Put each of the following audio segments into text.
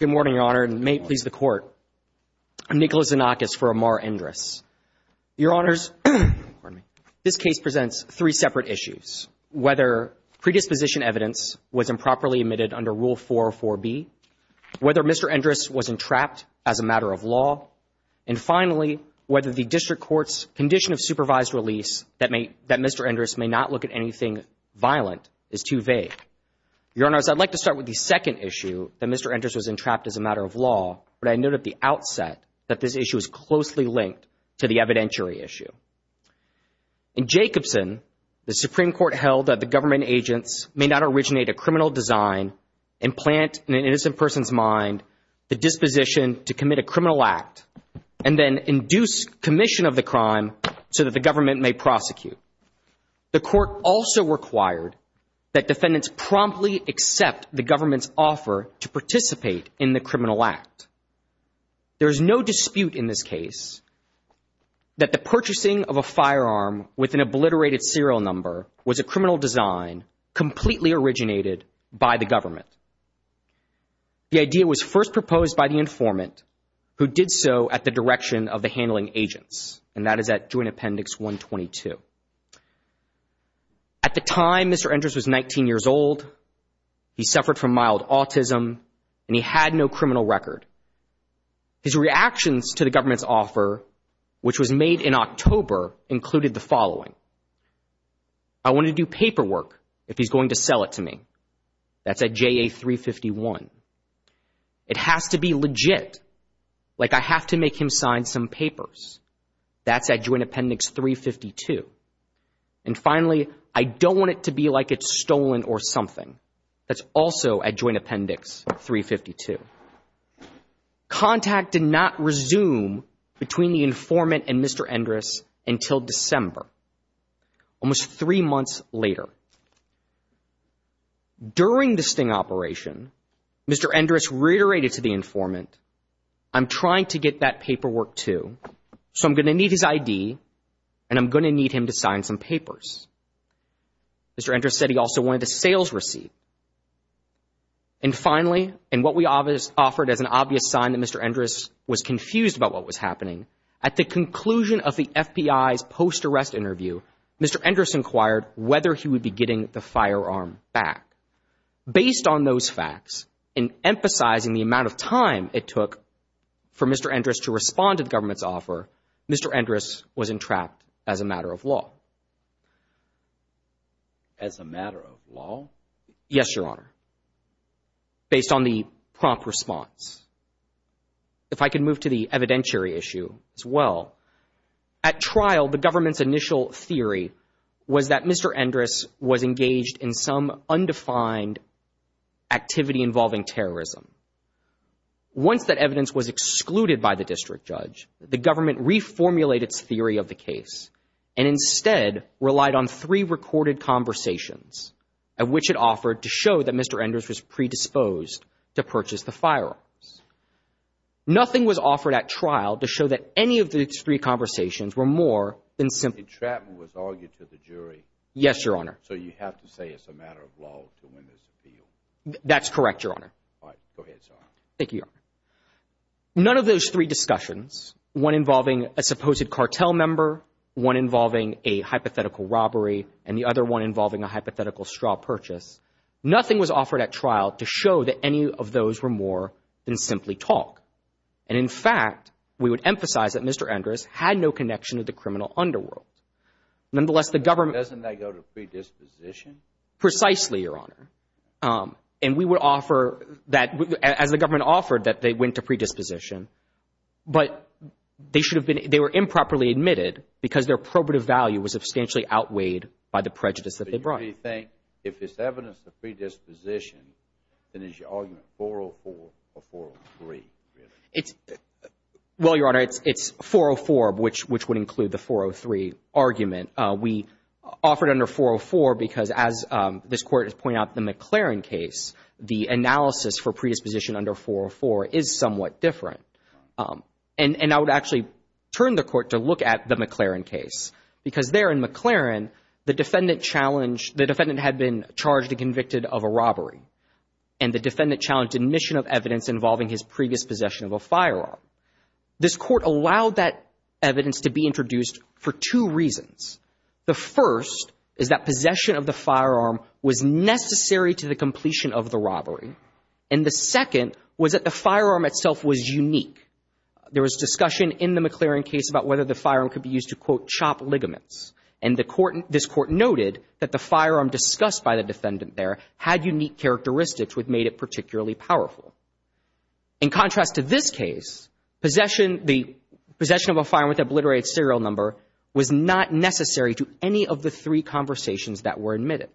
Good morning, Your Honor, and may it please the Court. I'm Nicholas Xenakis for Amar Endris. Your Honors, this case presents three separate issues, whether predisposition evidence was improperly omitted under Rule 404B, whether Mr. Endris was entrapped as a matter of law, and finally, whether the district court's condition of supervised release that Mr. Endris may not look at anything violent is too vague. Your Honors, I'd like to start with the second issue, that Mr. Endris was entrapped as a matter of law, but I note at the outset that this issue is closely linked to the evidentiary issue. In Jacobson, the Supreme Court held that the government agents may not originate a criminal design and plant in an innocent person's mind the disposition to commit a criminal act and then induce commission of the crime so that the government may prosecute. The Court also required that defendants promptly accept the government's offer to participate in the criminal act. There is no dispute in this case that the purchasing of a firearm with an obliterated serial number was a criminal design completely originated by the government. The idea was first proposed by the informant who did so at the direction of the handling agents, and that is at Joint Appendix 122. At the time, Mr. Endris was 19 years old. He suffered from mild autism, and he had no criminal record. His reactions to the government's offer, which was made in October, included the following. I want to do paperwork if he's going to sell it to me. That's at JA 351. It has to be legit, like I have to make him sign some papers. That's at Joint Appendix 352. And finally, I don't want it to be like it's stolen or something. That's also at Joint Appendix 352. Contact did not resume between the informant and Mr. Endris until December, almost three months later. During the sting operation, Mr. Endris reiterated to the informant, I'm trying to get that paperwork too, so I'm going to need his ID, and I'm going to need him to sign some papers. Mr. Endris said he also wanted a sales receipt. And finally, in what we offered as an obvious sign that Mr. Endris was confused about what was happening, at the conclusion of the FBI's post-arrest interview, Mr. Endris inquired whether he would be getting the firearm back. Based on those facts, and emphasizing the amount of time it took for Mr. Endris to respond to the government's offer, Mr. Endris was entrapped as a matter of law. As a matter of law? Yes, Your Honor. Based on the prompt response. If I could move to the evidentiary issue, as well. At trial, the government's initial theory was that Mr. Endris was engaged in some undefined activity involving terrorism. Once that evidence was excluded by the district judge, the government reformulated its theory of the case, and instead relied on three recorded conversations, of which it offered to show that Mr. Endris was predisposed to purchase the firearms. Nothing was offered at trial to show that any of these three conversations were more than simple... The entrapment was argued to the jury. Yes, Your Honor. So you have to say it's a matter of law to win this appeal? That's correct, Your Honor. All right. Go ahead, sir. Thank you, Your Honor. None of those three discussions, one involving a supposed cartel member, one involving a hypothetical robbery, and the other one involving a hypothetical straw purchase, nothing was offered at trial to show that any of those were more than simply talk. And in fact, we would emphasize that Mr. Endris had no connection to the criminal underworld. Nonetheless, the government... Doesn't that go to predisposition? Precisely, Your Honor. And we would offer that, as the government offered, that they went to predisposition. But they should have been, they were improperly admitted because their probative value was substantially outweighed by the prejudice that they brought. Why do you think, if it's evidence of predisposition, then is your argument 404 or 403, really? It's... Well, Your Honor, it's 404, which would include the 403 argument. We offered under 404 because, as this Court has pointed out in the McLaren case, the analysis for predisposition under 404 is somewhat different. And I would actually turn the Court to look at the McLaren case. Because there in McLaren, the defendant challenged, the defendant had been charged and convicted of a robbery. And the defendant challenged admission of evidence involving his previous possession of a firearm. This Court allowed that evidence to be introduced for two reasons. The first is that possession of the firearm was necessary to the completion of the robbery. And the second was that the firearm itself was unique. There was discussion in the McLaren case about whether the firearm could be used to, quote, chop ligaments. And this Court noted that the firearm discussed by the defendant there had unique characteristics which made it particularly powerful. In contrast to this case, the possession of a firearm with an obliterated serial number was not necessary to any of the three conversations that were admitted.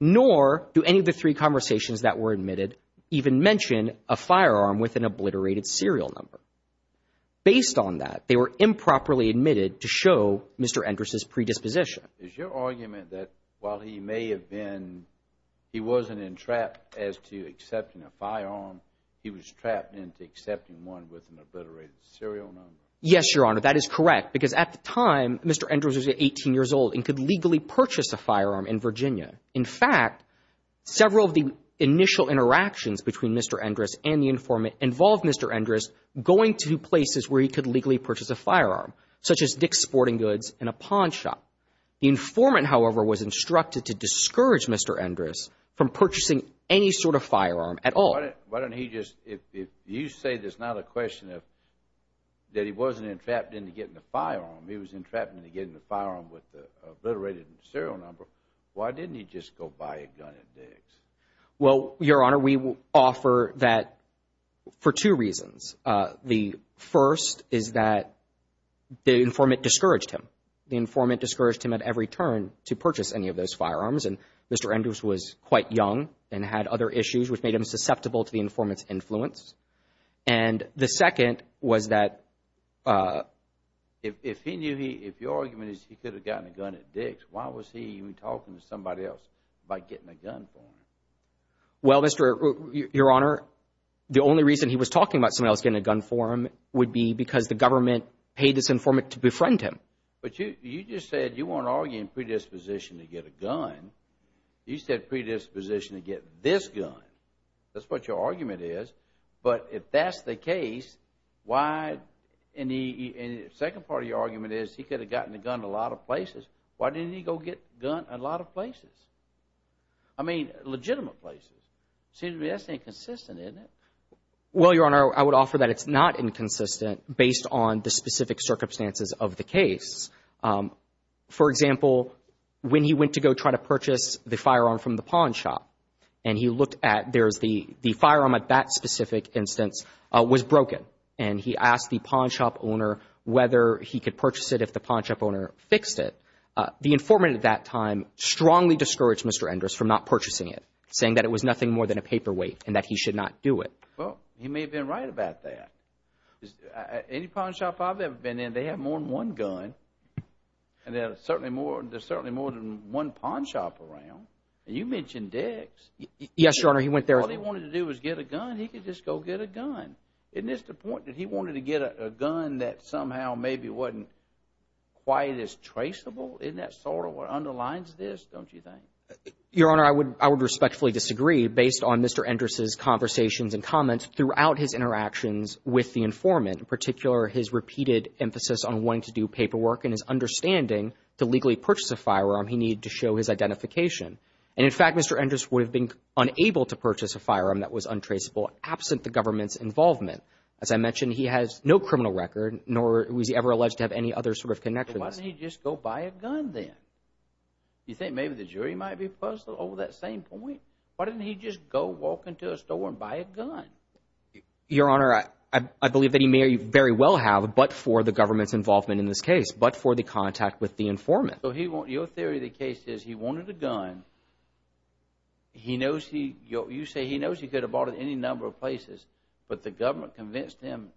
Nor do any of the three conversations that were admitted even mention a firearm with an obliterated serial number. Based on that, they were improperly admitted to show Mr. Endress' predisposition. Is your argument that while he may have been, he wasn't entrapped as to accepting a firearm, he was trapped into accepting one with an obliterated serial number? Yes, Your Honor. That is correct. Because at the time, Mr. Endress was 18 years old and could legally purchase a firearm in Virginia. In fact, several of the initial interactions between Mr. Endress and the informant involved Mr. Endress going to places where he could legally purchase a firearm, such as Dick's Sporting Goods and a pawn shop. The informant, however, was instructed to discourage Mr. Endress from purchasing any sort of firearm at all. Why don't he just, if you say there's not a question of that he wasn't entrapped into getting a firearm, he was entrapped into getting a firearm with an obliterated serial Well, Your Honor, we offer that for two reasons. The first is that the informant discouraged him. The informant discouraged him at every turn to purchase any of those firearms. And Mr. Endress was quite young and had other issues which made him susceptible to the informant's influence. And the second was that If he knew he, if your argument is he could have gotten a gun at Dick's, why was he even talking to somebody else by getting a gun for him? Well, Mr. Your Honor, the only reason he was talking about somebody else getting a gun for him would be because the government paid this informant to befriend him. But you just said you weren't arguing predisposition to get a gun. You said predisposition to get this gun. That's what your argument is. But if that's the case, why? And the second part of your argument is he could have gotten a gun a lot of places. Why didn't he go get a gun a lot of places? I mean, legitimate places. It seems to me that's inconsistent, isn't it? Well, Your Honor, I would offer that it's not inconsistent based on the specific circumstances of the case. For example, when he went to go try to purchase the firearm from the pawn shop and he looked at, there's the firearm at that specific instance was broken. And he asked the pawn shop owner whether he could purchase it if the pawn shop owner fixed it. The informant at that time strongly discouraged Mr. Endress from not purchasing it, saying that it was nothing more than a paperweight and that he should not do it. Well, he may have been right about that. Any pawn shop I've ever been in, they have more than one gun. And there's certainly more than one pawn shop around. And you mentioned Dick's. Yes, Your Honor, he went there. All he wanted to do was get a gun. He could just go get a gun. Isn't this the point that he wanted to get a gun that somehow maybe wasn't quite as traceable? Isn't that sort of what underlines this, don't you think? Your Honor, I would respectfully disagree based on Mr. Endress' conversations and comments throughout his interactions with the informant, in particular, his repeated emphasis on wanting to do paperwork and his understanding to legally purchase a firearm, he needed to show his identification. And, in fact, Mr. Endress would have been unable to purchase a firearm that was untraceable absent the government's involvement. As I mentioned, he has no criminal record, nor was he ever alleged to have any other sort of connections. So why didn't he just go buy a gun then? You think maybe the jury might be puzzled over that same point? Why didn't he just go walk into a store and buy a gun? Your Honor, I believe that he may very well have, but for the government's involvement in this case, but for the contact with the informant. So your theory of the case is he wanted a gun. You say he knows he could have bought it in any number of places, but the government convinced him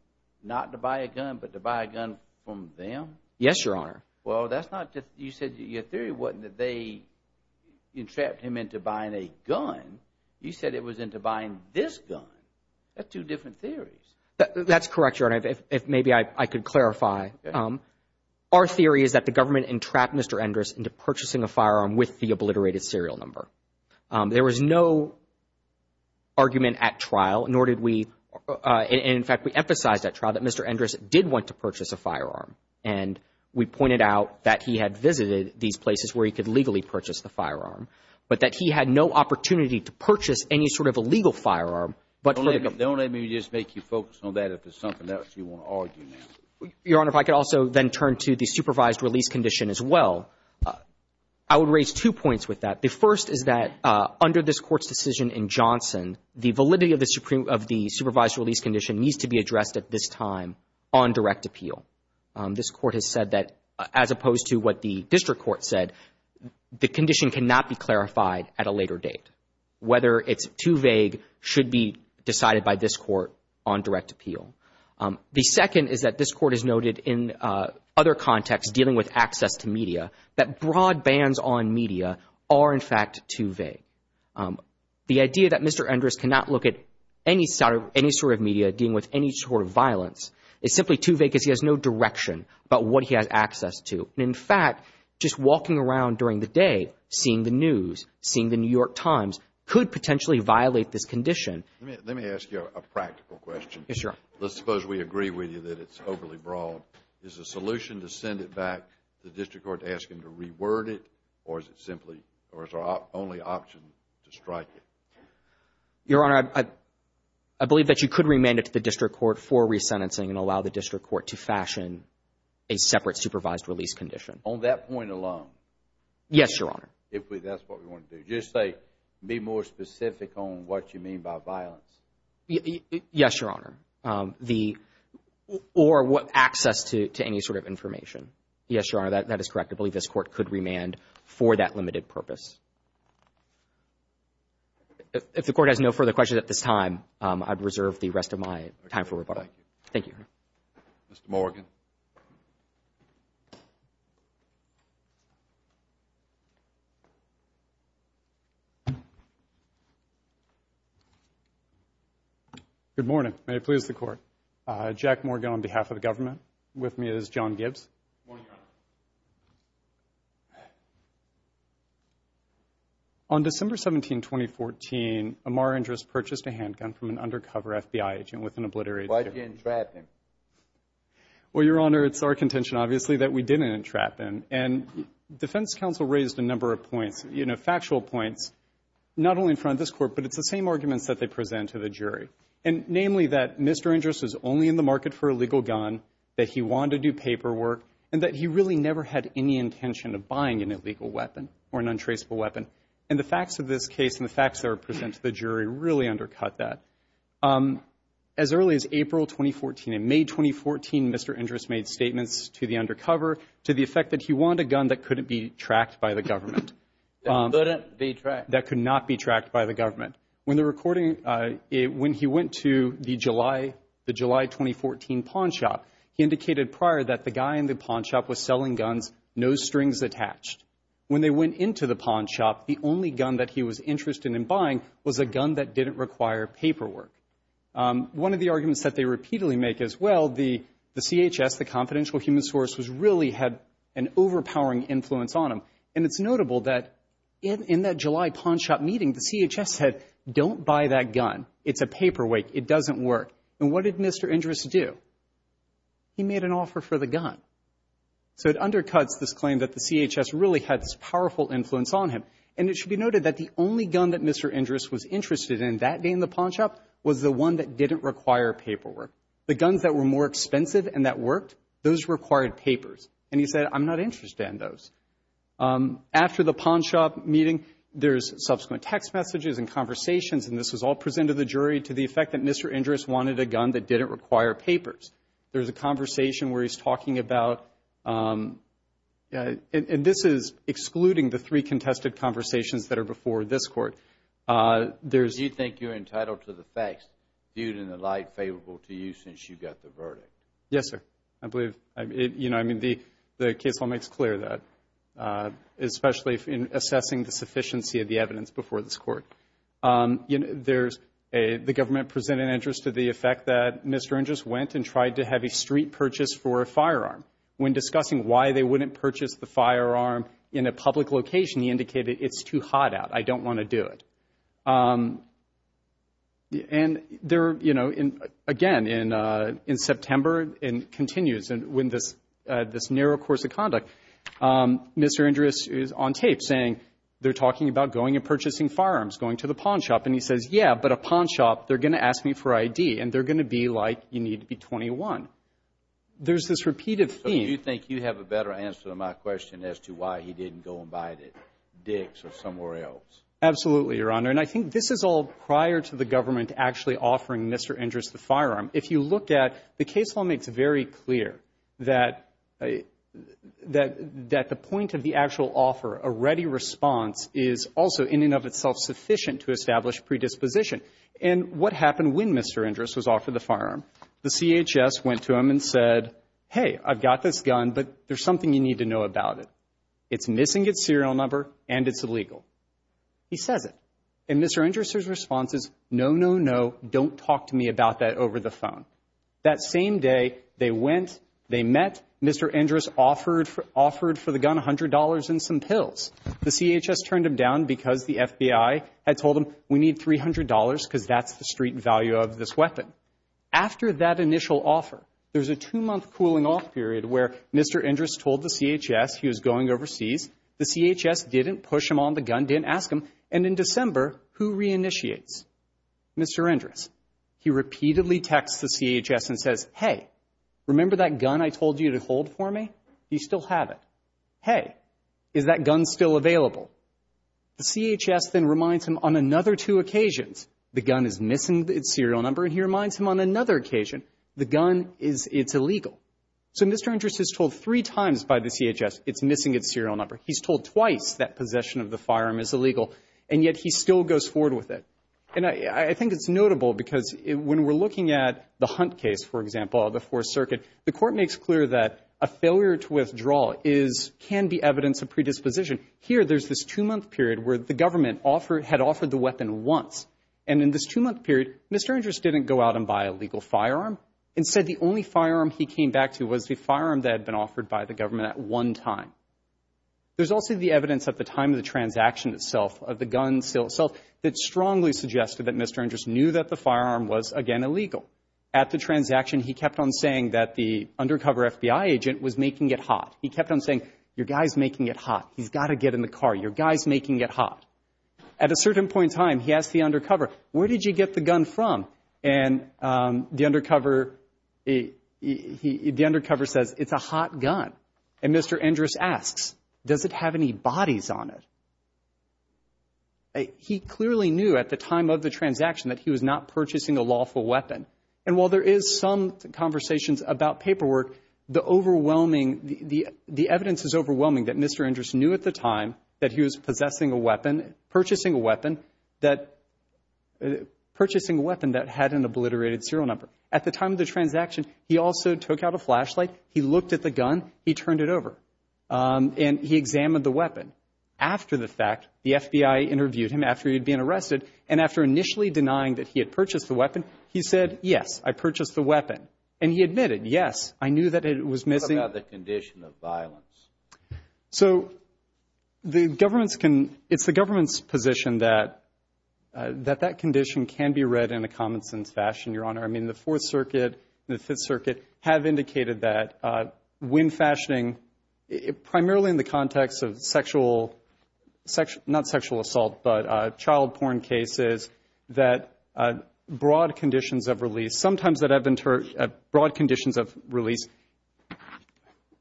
not to buy a gun, but to buy a gun from them? Yes, Your Honor. Well, that's not just, you said your theory wasn't that they entrapped him into buying a gun. You said it was into buying this gun. That's two different theories. That's correct, Your Honor, if maybe I could clarify. Our theory is that the government entrapped Mr. Endress into purchasing a firearm with the obliterated serial number. There was no argument at trial, nor did we – and, in fact, we emphasized at trial that Mr. Endress did want to purchase a firearm. And we pointed out that he had visited these places where he could legally purchase the firearm, but that he had no opportunity to purchase any sort of a legal firearm, but for the government. Don't let me just make you focus on that. If there's something else you want to argue now. Your Honor, if I could also then turn to the supervised release condition as well. I would raise two points with that. The first is that under this Court's decision in Johnson, the validity of the supervised release condition needs to be addressed at this time on direct appeal. This Court has said that, as opposed to what the district court said, the condition cannot be clarified at a later date. Whether it's too vague should be decided by this Court. This Court has noted in other contexts dealing with access to media that broad bands on media are, in fact, too vague. The idea that Mr. Endress cannot look at any sort of media dealing with any sort of violence is simply too vague because he has no direction about what he has access to. And, in fact, just walking around during the day seeing the news, seeing the New York Times could potentially violate this condition. Let me ask you a practical question. Yes, Your Honor. Let's suppose we agree with you that it's overly broad. Is the solution to send it back to the district court to ask him to reword it, or is it simply, or is our only option to strike it? Your Honor, I believe that you could remand it to the district court for resentencing and allow the district court to fashion a separate supervised release condition. On that point alone? Yes, Your Honor. If that's what we want to do. Just say, be more specific on what you mean by violence. Yes, Your Honor. The, or access to any sort of information. Yes, Your Honor, that is correct. I believe this court could remand for that limited purpose. If the court has no further questions at this time, I'd reserve the rest of my time for rebuttal. Thank you. Thank you. Mr. Morgan. Good morning. May it please the court. Jack Morgan on behalf of the government. With me is John Gibbs. Good morning, Your Honor. On December 17, 2014, Amar Andrus purchased a handgun from an undercover FBI agent with an obliterated gun. Why'd you entrap him? Well, Your Honor, it's our contention, obviously, that we didn't entrap him. And defense counsel raised a number of points, you know, factual points, not only in front of this court, but it's the same arguments that they present to the jury. Namely, that Mr. Andrus was only in the market for a legal gun, that he wanted to do paperwork, and that he really never had any intention of buying an illegal weapon or an untraceable weapon. And the facts of this case and the facts that are presented to the jury really undercut that. As early as April 2014, in May 2014, Mr. Andrus made statements to the undercover to the effect that he wanted a gun that couldn't be tracked by the government. That couldn't be tracked. That could not be tracked by the government. When the recording, when he went to the July 2014 pawn shop, he indicated prior that the guy in the pawn shop was selling guns, no strings attached. When they went into the pawn shop, the only gun that he was interested in buying was a gun that didn't require paperwork. One of the arguments that they repeatedly make is, well, the CHS, the confidential human source, really had an overpowering influence on him. And it's notable that in that July pawn shop meeting, the CHS said, don't buy that gun. It's a paperweight. It doesn't work. And what did Mr. Andrus do? He made an offer for the gun. So it undercuts this claim that the CHS really had this powerful influence on him. And it should be noted that the only gun that Mr. Andrus was interested in that day in the pawn shop was the one that didn't require paperwork. The guns that were more expensive and that worked, those required papers. And he said, I'm not interested in those. After the pawn shop meeting, there's subsequent text messages and conversations, and this was all presented to the jury to the effect that Mr. Andrus wanted a gun that didn't require papers. There's a conversation where he's talking about, and this is excluding the three contested conversations that are before this Court. Do you think you're entitled to the facts viewed in the light favorable to you since you got the verdict? Yes, sir. I believe, you know, I mean, the case law makes clear that, especially in assessing the sufficiency of the evidence before this Court. There's a, the government presented an interest to the effect that Mr. Andrus went and tried to have a street purchase for a firearm. When discussing why they wouldn't purchase the firearm in a public location, he indicated, it's too hot out. I don't want to do it. And there, you know, again, in September, and continues, and with this narrow course of conduct, Mr. Andrus is on tape saying, they're talking about going and purchasing firearms, going to the pawn shop. And he says, yeah, but a pawn shop, they're going to ask me for ID, and they're going to be like, you need to be 21. There's this repeated theme. So do you think you have a better answer to my question as to why he didn't go and buy it at Dick's or somewhere else? Absolutely, Your Honor. And I think this is all prior to the government actually offering Mr. Andrus the firearm. If you look at, the case law makes it very clear that, that the point of the actual offer, a ready response, is also in and of itself sufficient to establish predisposition. And what happened when Mr. Andrus was offered the firearm? The CHS went to him and said, hey, I've got this gun, but there's something you need to know about it. It's missing its serial number, and it's illegal. He says it. And Mr. Andrus' response is, no, no, no, don't talk to me about that over the phone. That same day, they went, they met, Mr. Andrus offered for the gun $100 and some pills. The CHS turned him down because the FBI had told him, we need $300 because that's the street value of this weapon. After that initial offer, there's a two-month cooling off period where Mr. Andrus told the CHS he was going overseas. The CHS didn't push him on the gun, didn't ask him. And in December, who reinitiates? Mr. Andrus. He repeatedly texts the CHS and says, hey, remember that gun I told you to hold for me? Do you still have it? Hey, is that gun still available? The CHS then reminds him on another two occasions, the gun is missing its serial number, and he reminds him on another occasion, the gun is, it's illegal. So Mr. Andrus is told three times by the CHS it's missing its serial number. He's told twice that possession of the firearm is illegal, and yet he still goes forward with it. And I think it's notable because when we're looking at the Hunt case, for example, the Fourth Circuit, the court makes clear that a failure to withdraw is, can be evidence of predisposition. Here, there's this two-month period where the government offered, had offered the weapon once. And in this two-month period, Mr. Andrus didn't go out and buy a legal firearm. Instead, the only firearm he came back to was the firearm that had been offered by the government at one time. There's also the evidence at the time of the transaction itself of the gun sale itself that strongly suggested that Mr. Andrus knew that the firearm was again illegal. At the transaction, he kept on saying that the undercover FBI agent was making it hot. He kept on saying, your guy's making it hot. He's got to get in the car. Your guy's making it hot. At a certain point in time, he asked the undercover, where did you get the gun from? And the undercover, the undercover says, it's a hot gun. And Mr. Andrus asks, does it have any bodies on it? He clearly knew at the time of the transaction that he was not purchasing a lawful weapon. And while there is some conversations about paperwork, the overwhelming, the evidence is overwhelming that Mr. Andrus knew at the time that he was possessing a weapon, purchasing a weapon that had an obliterated serial number. At the time of the transaction, he also took out a flashlight. He looked at the gun. He turned it over. And he examined the weapon. After the fact, the FBI interviewed him after he'd been arrested. And after initially denying that he had purchased the weapon, he said, yes, I purchased the weapon. And he admitted, yes, I knew that it was missing. What about the condition of violence? So the government's can, it's the government's position that, that that condition can be read in a common sense fashion, Your Honor. I mean, the Fourth Circuit and the Fifth Circuit have indicated that when fashioning, primarily in the context of sexual, not sexual assault, but child porn cases, that broad conditions of release, sometimes that broad conditions of release,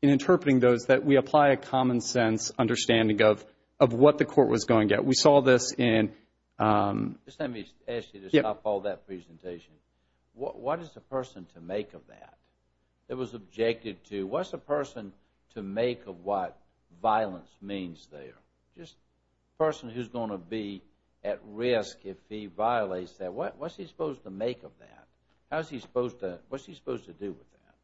in interpreting those, that we apply a common sense understanding of, of what the court was going to get. We saw this in... Just let me ask you to stop all that presentation. What is a person to make of that? It was objective to, what's a person to make of what violence means there? Just a person who's going to be at risk if he violates that, what's he supposed to make of that? How's he supposed to, what's he supposed to do with that?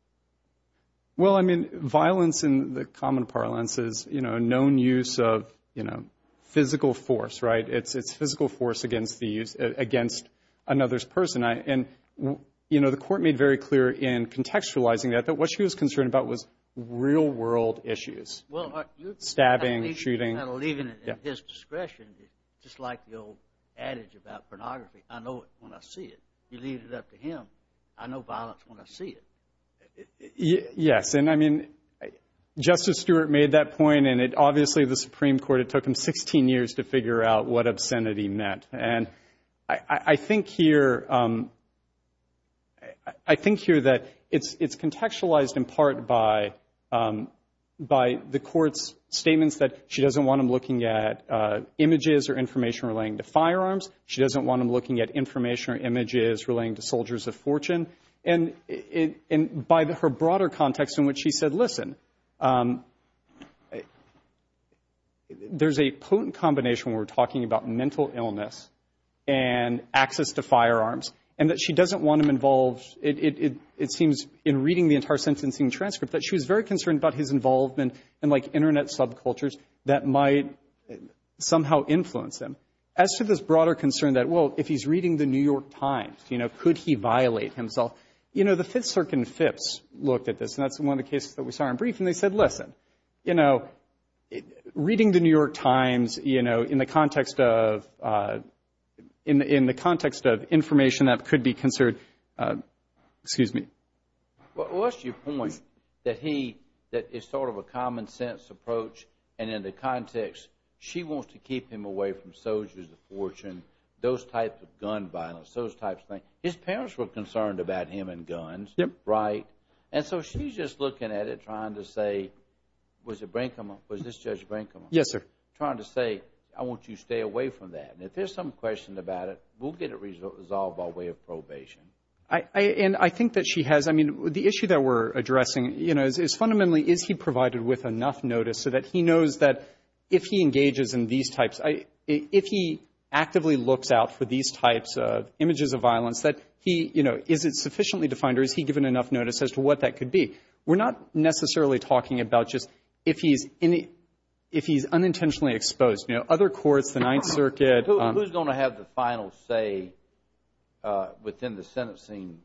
Well, I mean, violence in the common parlance is, you know, a known use of, you know, physical force, right? It's, it's physical force against the use, against another's person. And, you know, the court made very clear in contextualizing that, that what she was concerned about was real world issues. Stabbing, shooting. I believe in his discretion, just like the old adage about pornography. I know it when I see it. You leave it up to him. I know violence when I see it. Yes. And, I mean, Justice Stewart made that point and it obviously, the Supreme Court, it took him 16 years to figure out what obscenity meant. And I, I think here, I think here that it's, it's contextualized in part by, by the court's statements that she doesn't want him looking at images or information relating to firearms. She doesn't want him looking at information or images relating to soldiers of fortune. And, and by her broader context in which she said, listen, there's a potent combination when we're talking about mental illness and access to firearms and that she doesn't want him involved. It, it, it seems in reading the entire sentencing transcript that she was very concerned about his involvement in like internet subcultures that might somehow influence him. As to this broader concern that, well, if he's reading the New York Times, you know, could he violate himself? You know, the Fifth Circuit and FIPS looked at this and that's one of the cases that we saw in brief and they said, listen, you know, reading the New York Times, you know, in the context of, in, in the context of information that could be considered, excuse me. Well, unless you point that he, that it's sort of a common sense approach and in the context she wants to keep him away from soldiers of fortune, those types of gun violence, those types of things. His parents were concerned about him and guns. Yep. Right? And so she's just looking at it trying to say, was it Brinkman, was this Judge Brinkman? Yes, sir. Trying to say, I want you to stay away from that. And if there's some question about it, we'll get it resolved by way of probation. I, and I think that she has, I mean, the issue that we're addressing, you know, is, is he given enough notice so that he knows that if he engages in these types, if he actively looks out for these types of images of violence, that he, you know, is it sufficiently defined or is he given enough notice as to what that could be? We're not necessarily talking about just if he's, if he's unintentionally exposed. You know, other courts, the Ninth Circuit. Who's going to have the final say within the sentencing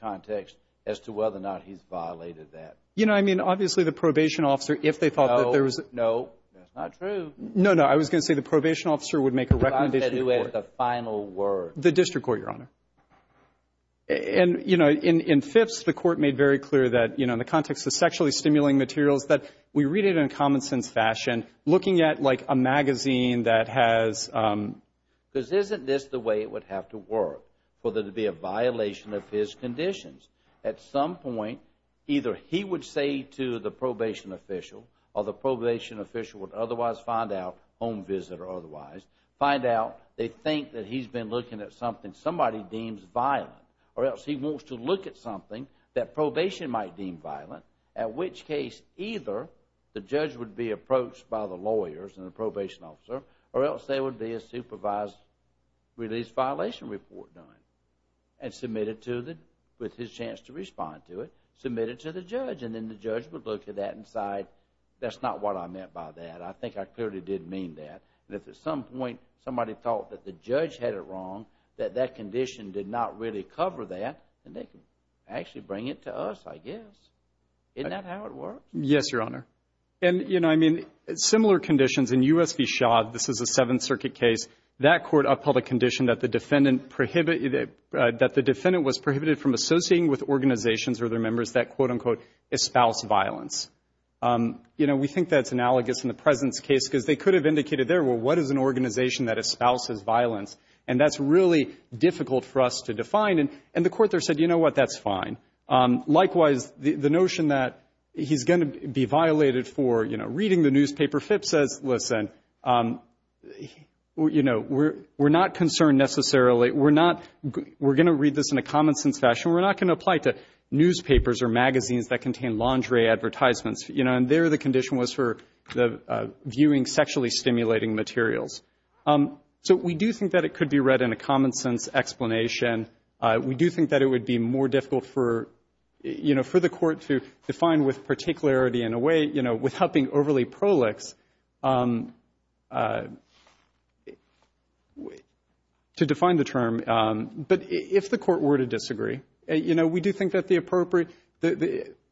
context as to whether or not he's violated that? You know, I mean, obviously the probation officer, if they thought that there was. No, no. That's not true. No, no. I was going to say the probation officer would make a recommendation. Who has the final word? The district court, Your Honor. And, you know, in, in fifths, the court made very clear that, you know, in the context of sexually stimulating materials, that we read it in a common sense fashion, looking at like a magazine that has. Because isn't this the way it would have to work for there to be a violation of his conditions? At some point, either he would say to the probation official, or the probation official would otherwise find out, home visit or otherwise, find out they think that he's been looking at something somebody deems violent, or else he wants to look at something that probation might deem violent. At which case, either the judge would be approached by the lawyers and the probation officer, or else there would be a supervised release violation report done, and submitted to the, with his chance to respond to it, submitted to the judge. And then the judge would look at that and decide, that's not what I meant by that. I think I clearly did mean that. And if at some point somebody thought that the judge had it wrong, that that condition did not really cover that, then they could actually bring it to us, I guess. Isn't that how it works? Yes, Your Honor. And, you know, I mean, similar conditions in U.S. v. Shaw, this is a Seventh Circuit case. That court upheld a condition that the defendant was prohibited from associating with organizations or their members that, quote, unquote, espouse violence. You know, we think that's analogous in the President's case, because they could have indicated there, well, what is an organization that espouses violence? And that's really difficult for us to define. And the court there said, you know what, that's fine. Likewise, the notion that he's going to be violated for, you know, reading the You know, we're not concerned necessarily. We're not going to read this in a common-sense fashion. We're not going to apply it to newspapers or magazines that contain lingerie advertisements. You know, and there the condition was for the viewing sexually stimulating materials. So we do think that it could be read in a common-sense explanation. We do think that it would be more difficult for, you know, for the court to define in a way, you know, without being overly prolix to define the term. But if the court were to disagree, you know, we do think that the appropriate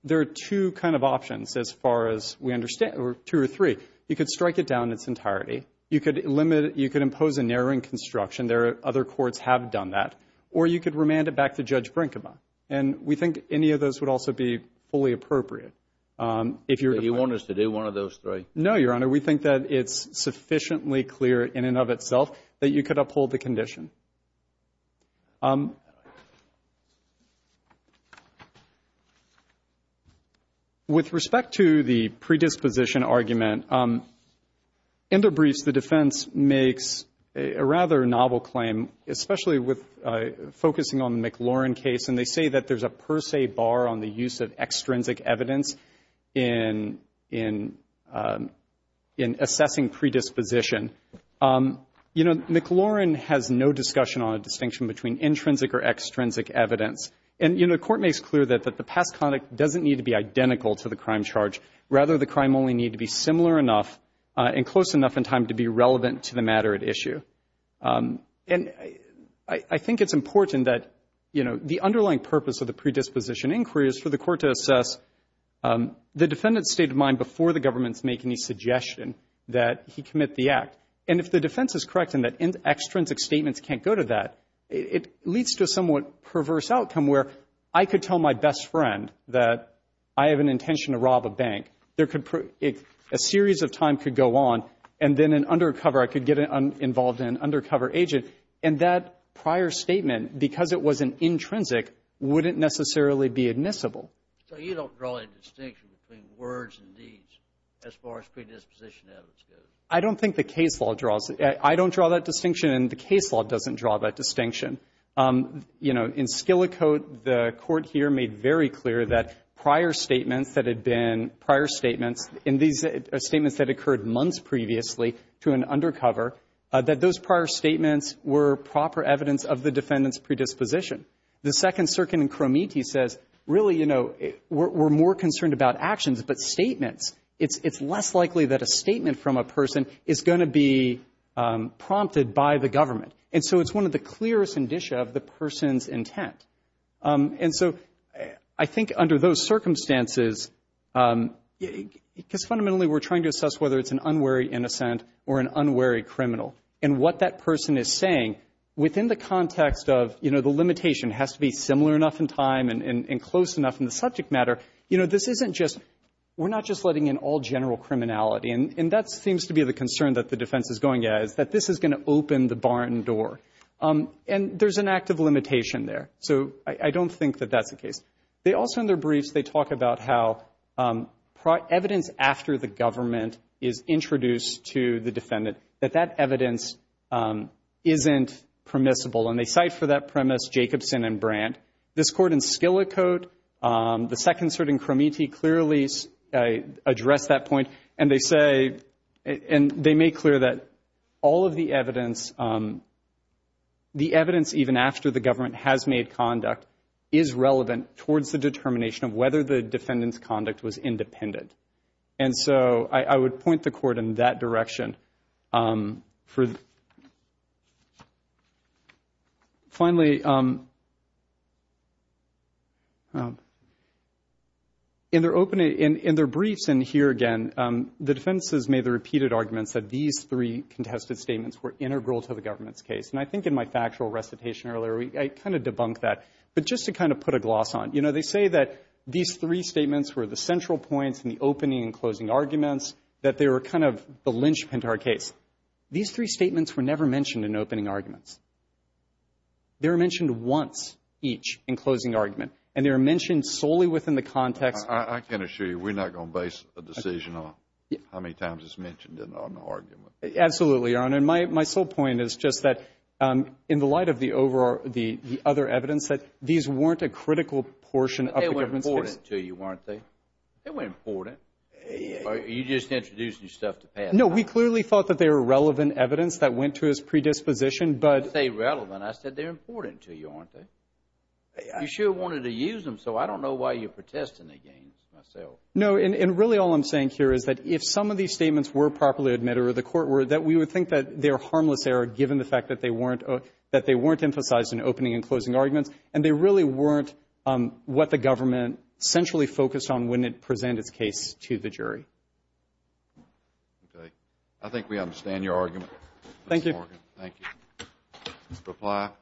there are two kind of options as far as we understand, or two or three. You could strike it down in its entirety. You could limit it. You could impose a narrowing construction. There are other courts have done that. Or you could remand it back to Judge Brinkema. And we think any of those would also be fully appropriate. If you're going to. You want us to do one of those three? No, Your Honor. We think that it's sufficiently clear in and of itself that you could uphold the condition. With respect to the predisposition argument, in the briefs the defense makes a rather novel claim, especially with focusing on the McLaurin case. And they say that there's a per se bar on the use of extrinsic evidence in assessing predisposition. You know, McLaurin has no discussion on a distinction between intrinsic or extrinsic evidence. And, you know, the court makes clear that the past conduct doesn't need to be identical to the crime charge. Rather, the crime only need to be similar enough and close enough in time to be relevant to the matter at issue. And I think it's important that, you know, the underlying purpose of the predisposition inquiry is for the court to assess the defendant's state of mind before the government makes any suggestion that he commit the act. And if the defense is correct in that extrinsic statements can't go to that, it leads to a somewhat perverse outcome where I could tell my best friend that I have an intention to rob a bank. A series of time could go on. And then an undercover, I could get involved in an undercover agent. And that prior statement, because it was an intrinsic, wouldn't necessarily be admissible. So you don't draw a distinction between words and deeds as far as predisposition evidence goes? I don't think the case law draws it. I don't draw that distinction, and the case law doesn't draw that distinction. You know, in Skillicote, the court here made very clear that prior statements that had been prior statements, and these are statements that occurred months previously to an undercover, that those prior statements were proper evidence of the defendant's predisposition. The Second Circuit in Cromity says, really, you know, we're more concerned about actions, but statements. It's less likely that a statement from a person is going to be prompted by the government. And so it's one of the clearest indicia of the person's intent. And so I think under those circumstances, because fundamentally we're trying to assess whether it's an unwary innocent or an unwary criminal. And what that person is saying within the context of, you know, the limitation has to be similar enough in time and close enough in the subject matter. You know, this isn't just, we're not just letting in all general criminality. And that seems to be the concern that the defense is going at, is that this is going to open the barn door. And there's an active limitation there. So I don't think that that's the case. They also, in their briefs, they talk about how evidence after the government is introduced to the defendant, that that evidence isn't permissible. And they cite for that premise Jacobson and Brandt. This court in Skillicote, the Second Circuit in Cromity clearly addressed that point. And they say, and they make clear that all of the evidence, the evidence even after the government has made conduct is relevant towards the determination of whether the defendant's conduct was independent. And so I would point the court in that direction. Finally, in their briefs and here again, the defendants made the repeated arguments that these three contested statements were integral to the government's case. And I think in my factual recitation earlier, I kind of debunked that. But just to kind of put a gloss on it, you know, they say that these three statements were the central points in the opening and closing arguments, that they were kind of the linchpin to our case. These three statements were never mentioned in opening arguments. They were mentioned once each in closing argument. And they were mentioned solely within the context of the argument. I can assure you we're not going to base a decision on how many times it's mentioned in an argument. Absolutely, Your Honor. And my sole point is just that in the light of the other evidence, that these weren't a critical portion of the government's case. But they were important to you, weren't they? They were important. Are you just introducing stuff to pass? No, we clearly thought that they were relevant evidence that went to his predisposition. When you say relevant, I said they're important to you, aren't they? You sure wanted to use them, so I don't know why you're protesting against myself. No, and really all I'm saying here is that if some of these statements were properly admitted or the court were, that we would think that they're harmless error given the fact that they weren't emphasized in opening and closing arguments, and they really weren't what the government centrally focused on when it presented its case to the jury. Okay. I think we understand your argument, Mr. Morgan. Thank you. Thank you. Mr. Platt.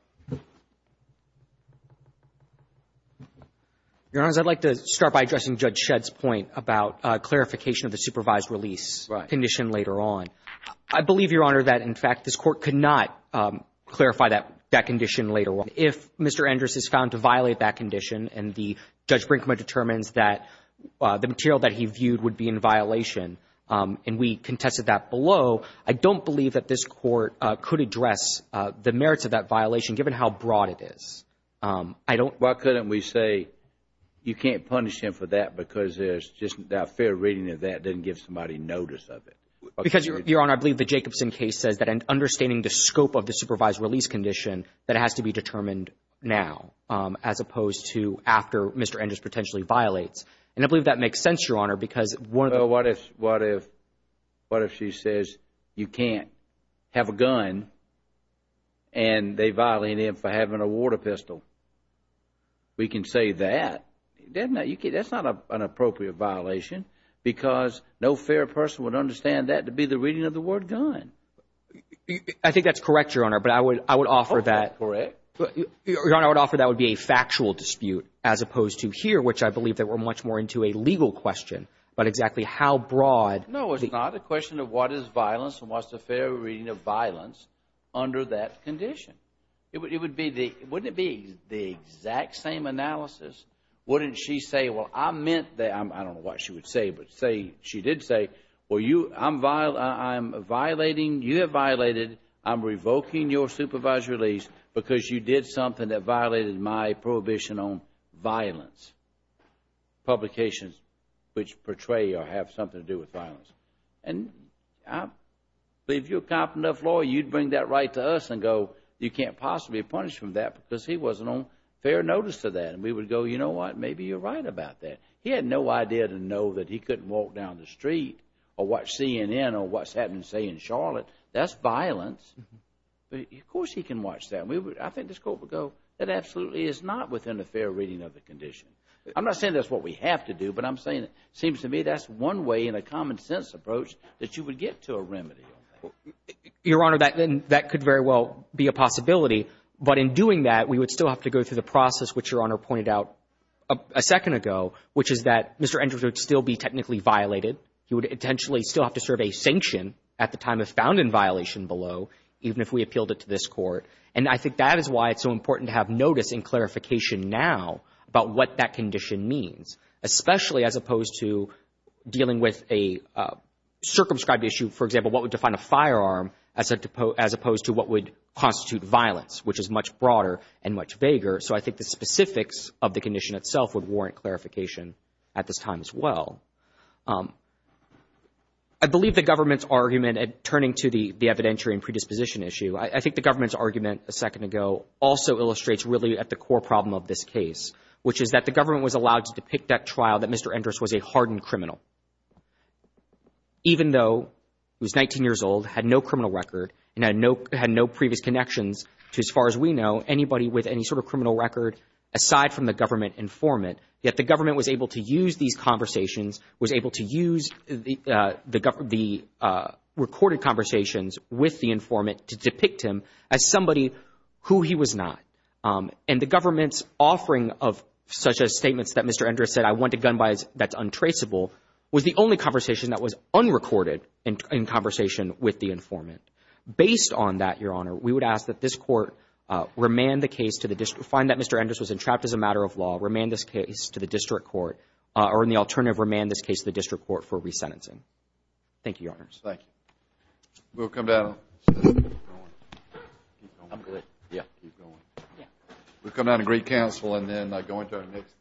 Your Honors, I'd like to start by addressing Judge Shedd's point about clarification of the supervised release condition later on. I believe, Your Honor, that in fact this Court could not clarify that condition later on. If Mr. Endress is found to violate that condition and Judge Brinkman determines that the material that he viewed would be in violation, and we contested that below, I don't believe that this Court could address the merits of that violation given how broad it is. Why couldn't we say you can't punish him for that because there's just not a fair reading of that. It doesn't give somebody notice of it. Because, Your Honor, I believe the Jacobson case says that in understanding the scope of the supervised release condition, that has to be determined now as opposed to after Mr. Endress potentially violates. And I believe that makes sense, Your Honor, because one of the— Well, what if she says you can't have a gun and they're violating him for having a water pistol? We can say that. That's not an appropriate violation because no fair person would understand that to be the reading of the word gun. I think that's correct, Your Honor, but I would offer that— I hope that's correct. Your Honor, I would offer that would be a factual dispute as opposed to here, which I believe that we're much more into a legal question about exactly how broad— No, it's not. The question of what is violence and what's the fair reading of violence under that condition. Wouldn't it be the exact same analysis? Wouldn't she say, well, I meant that—I don't know what she would say, but she did say, well, I'm violating, you have violated, I'm revoking your supervised release because you did something that violated my prohibition on violence, publications which portray or have something to do with violence. And if you're a competent enough lawyer, you'd bring that right to us and go, you can't possibly be punished for that because he wasn't on fair notice of that. And we would go, you know what, maybe you're right about that. He had no idea to know that he couldn't walk down the street or watch CNN or what's happening, say, in Charlotte. That's violence. Of course he can watch that. I think this court would go, that absolutely is not within the fair reading of the condition. I'm not saying that's what we have to do, but I'm saying it seems to me that's one way in a common-sense approach that you would get to a remedy on that. Your Honor, that could very well be a possibility. But in doing that, we would still have to go through the process which Your Honor pointed out a second ago, which is that Mr. Andrews would still be technically violated. He would intentionally still have to serve a sanction at the time of found in violation below, even if we appealed it to this court. And I think that is why it's so important to have notice and clarification now about what that condition means, especially as opposed to dealing with a circumscribed issue. For example, what would define a firearm as opposed to what would constitute violence, which is much broader and much vaguer. So I think the specifics of the condition itself would warrant clarification at this time as well. I believe the government's argument, and turning to the evidentiary and predisposition issue, I think the government's argument a second ago also is that the government was allowed to depict that trial that Mr. Andrews was a hardened criminal. Even though he was 19 years old, had no criminal record, and had no previous connections to, as far as we know, anybody with any sort of criminal record aside from the government informant, yet the government was able to use these conversations, was able to use the recorded conversations with the informant to depict him as somebody who he was not. And the government's offering of such statements that Mr. Andrews said, I want a gun that's untraceable, was the only conversation that was unrecorded in conversation with the informant. Based on that, Your Honor, we would ask that this court remand the case to the district, find that Mr. Andrews was entrapped as a matter of law, remand this case to the district court, or in the alternative, remand this case to the district court for resentencing. Thank you, Your Honors. Thank you. We'll come down. Keep going. I'm good. Yeah. Keep going. We'll come down and greet counsel and then go into our next case.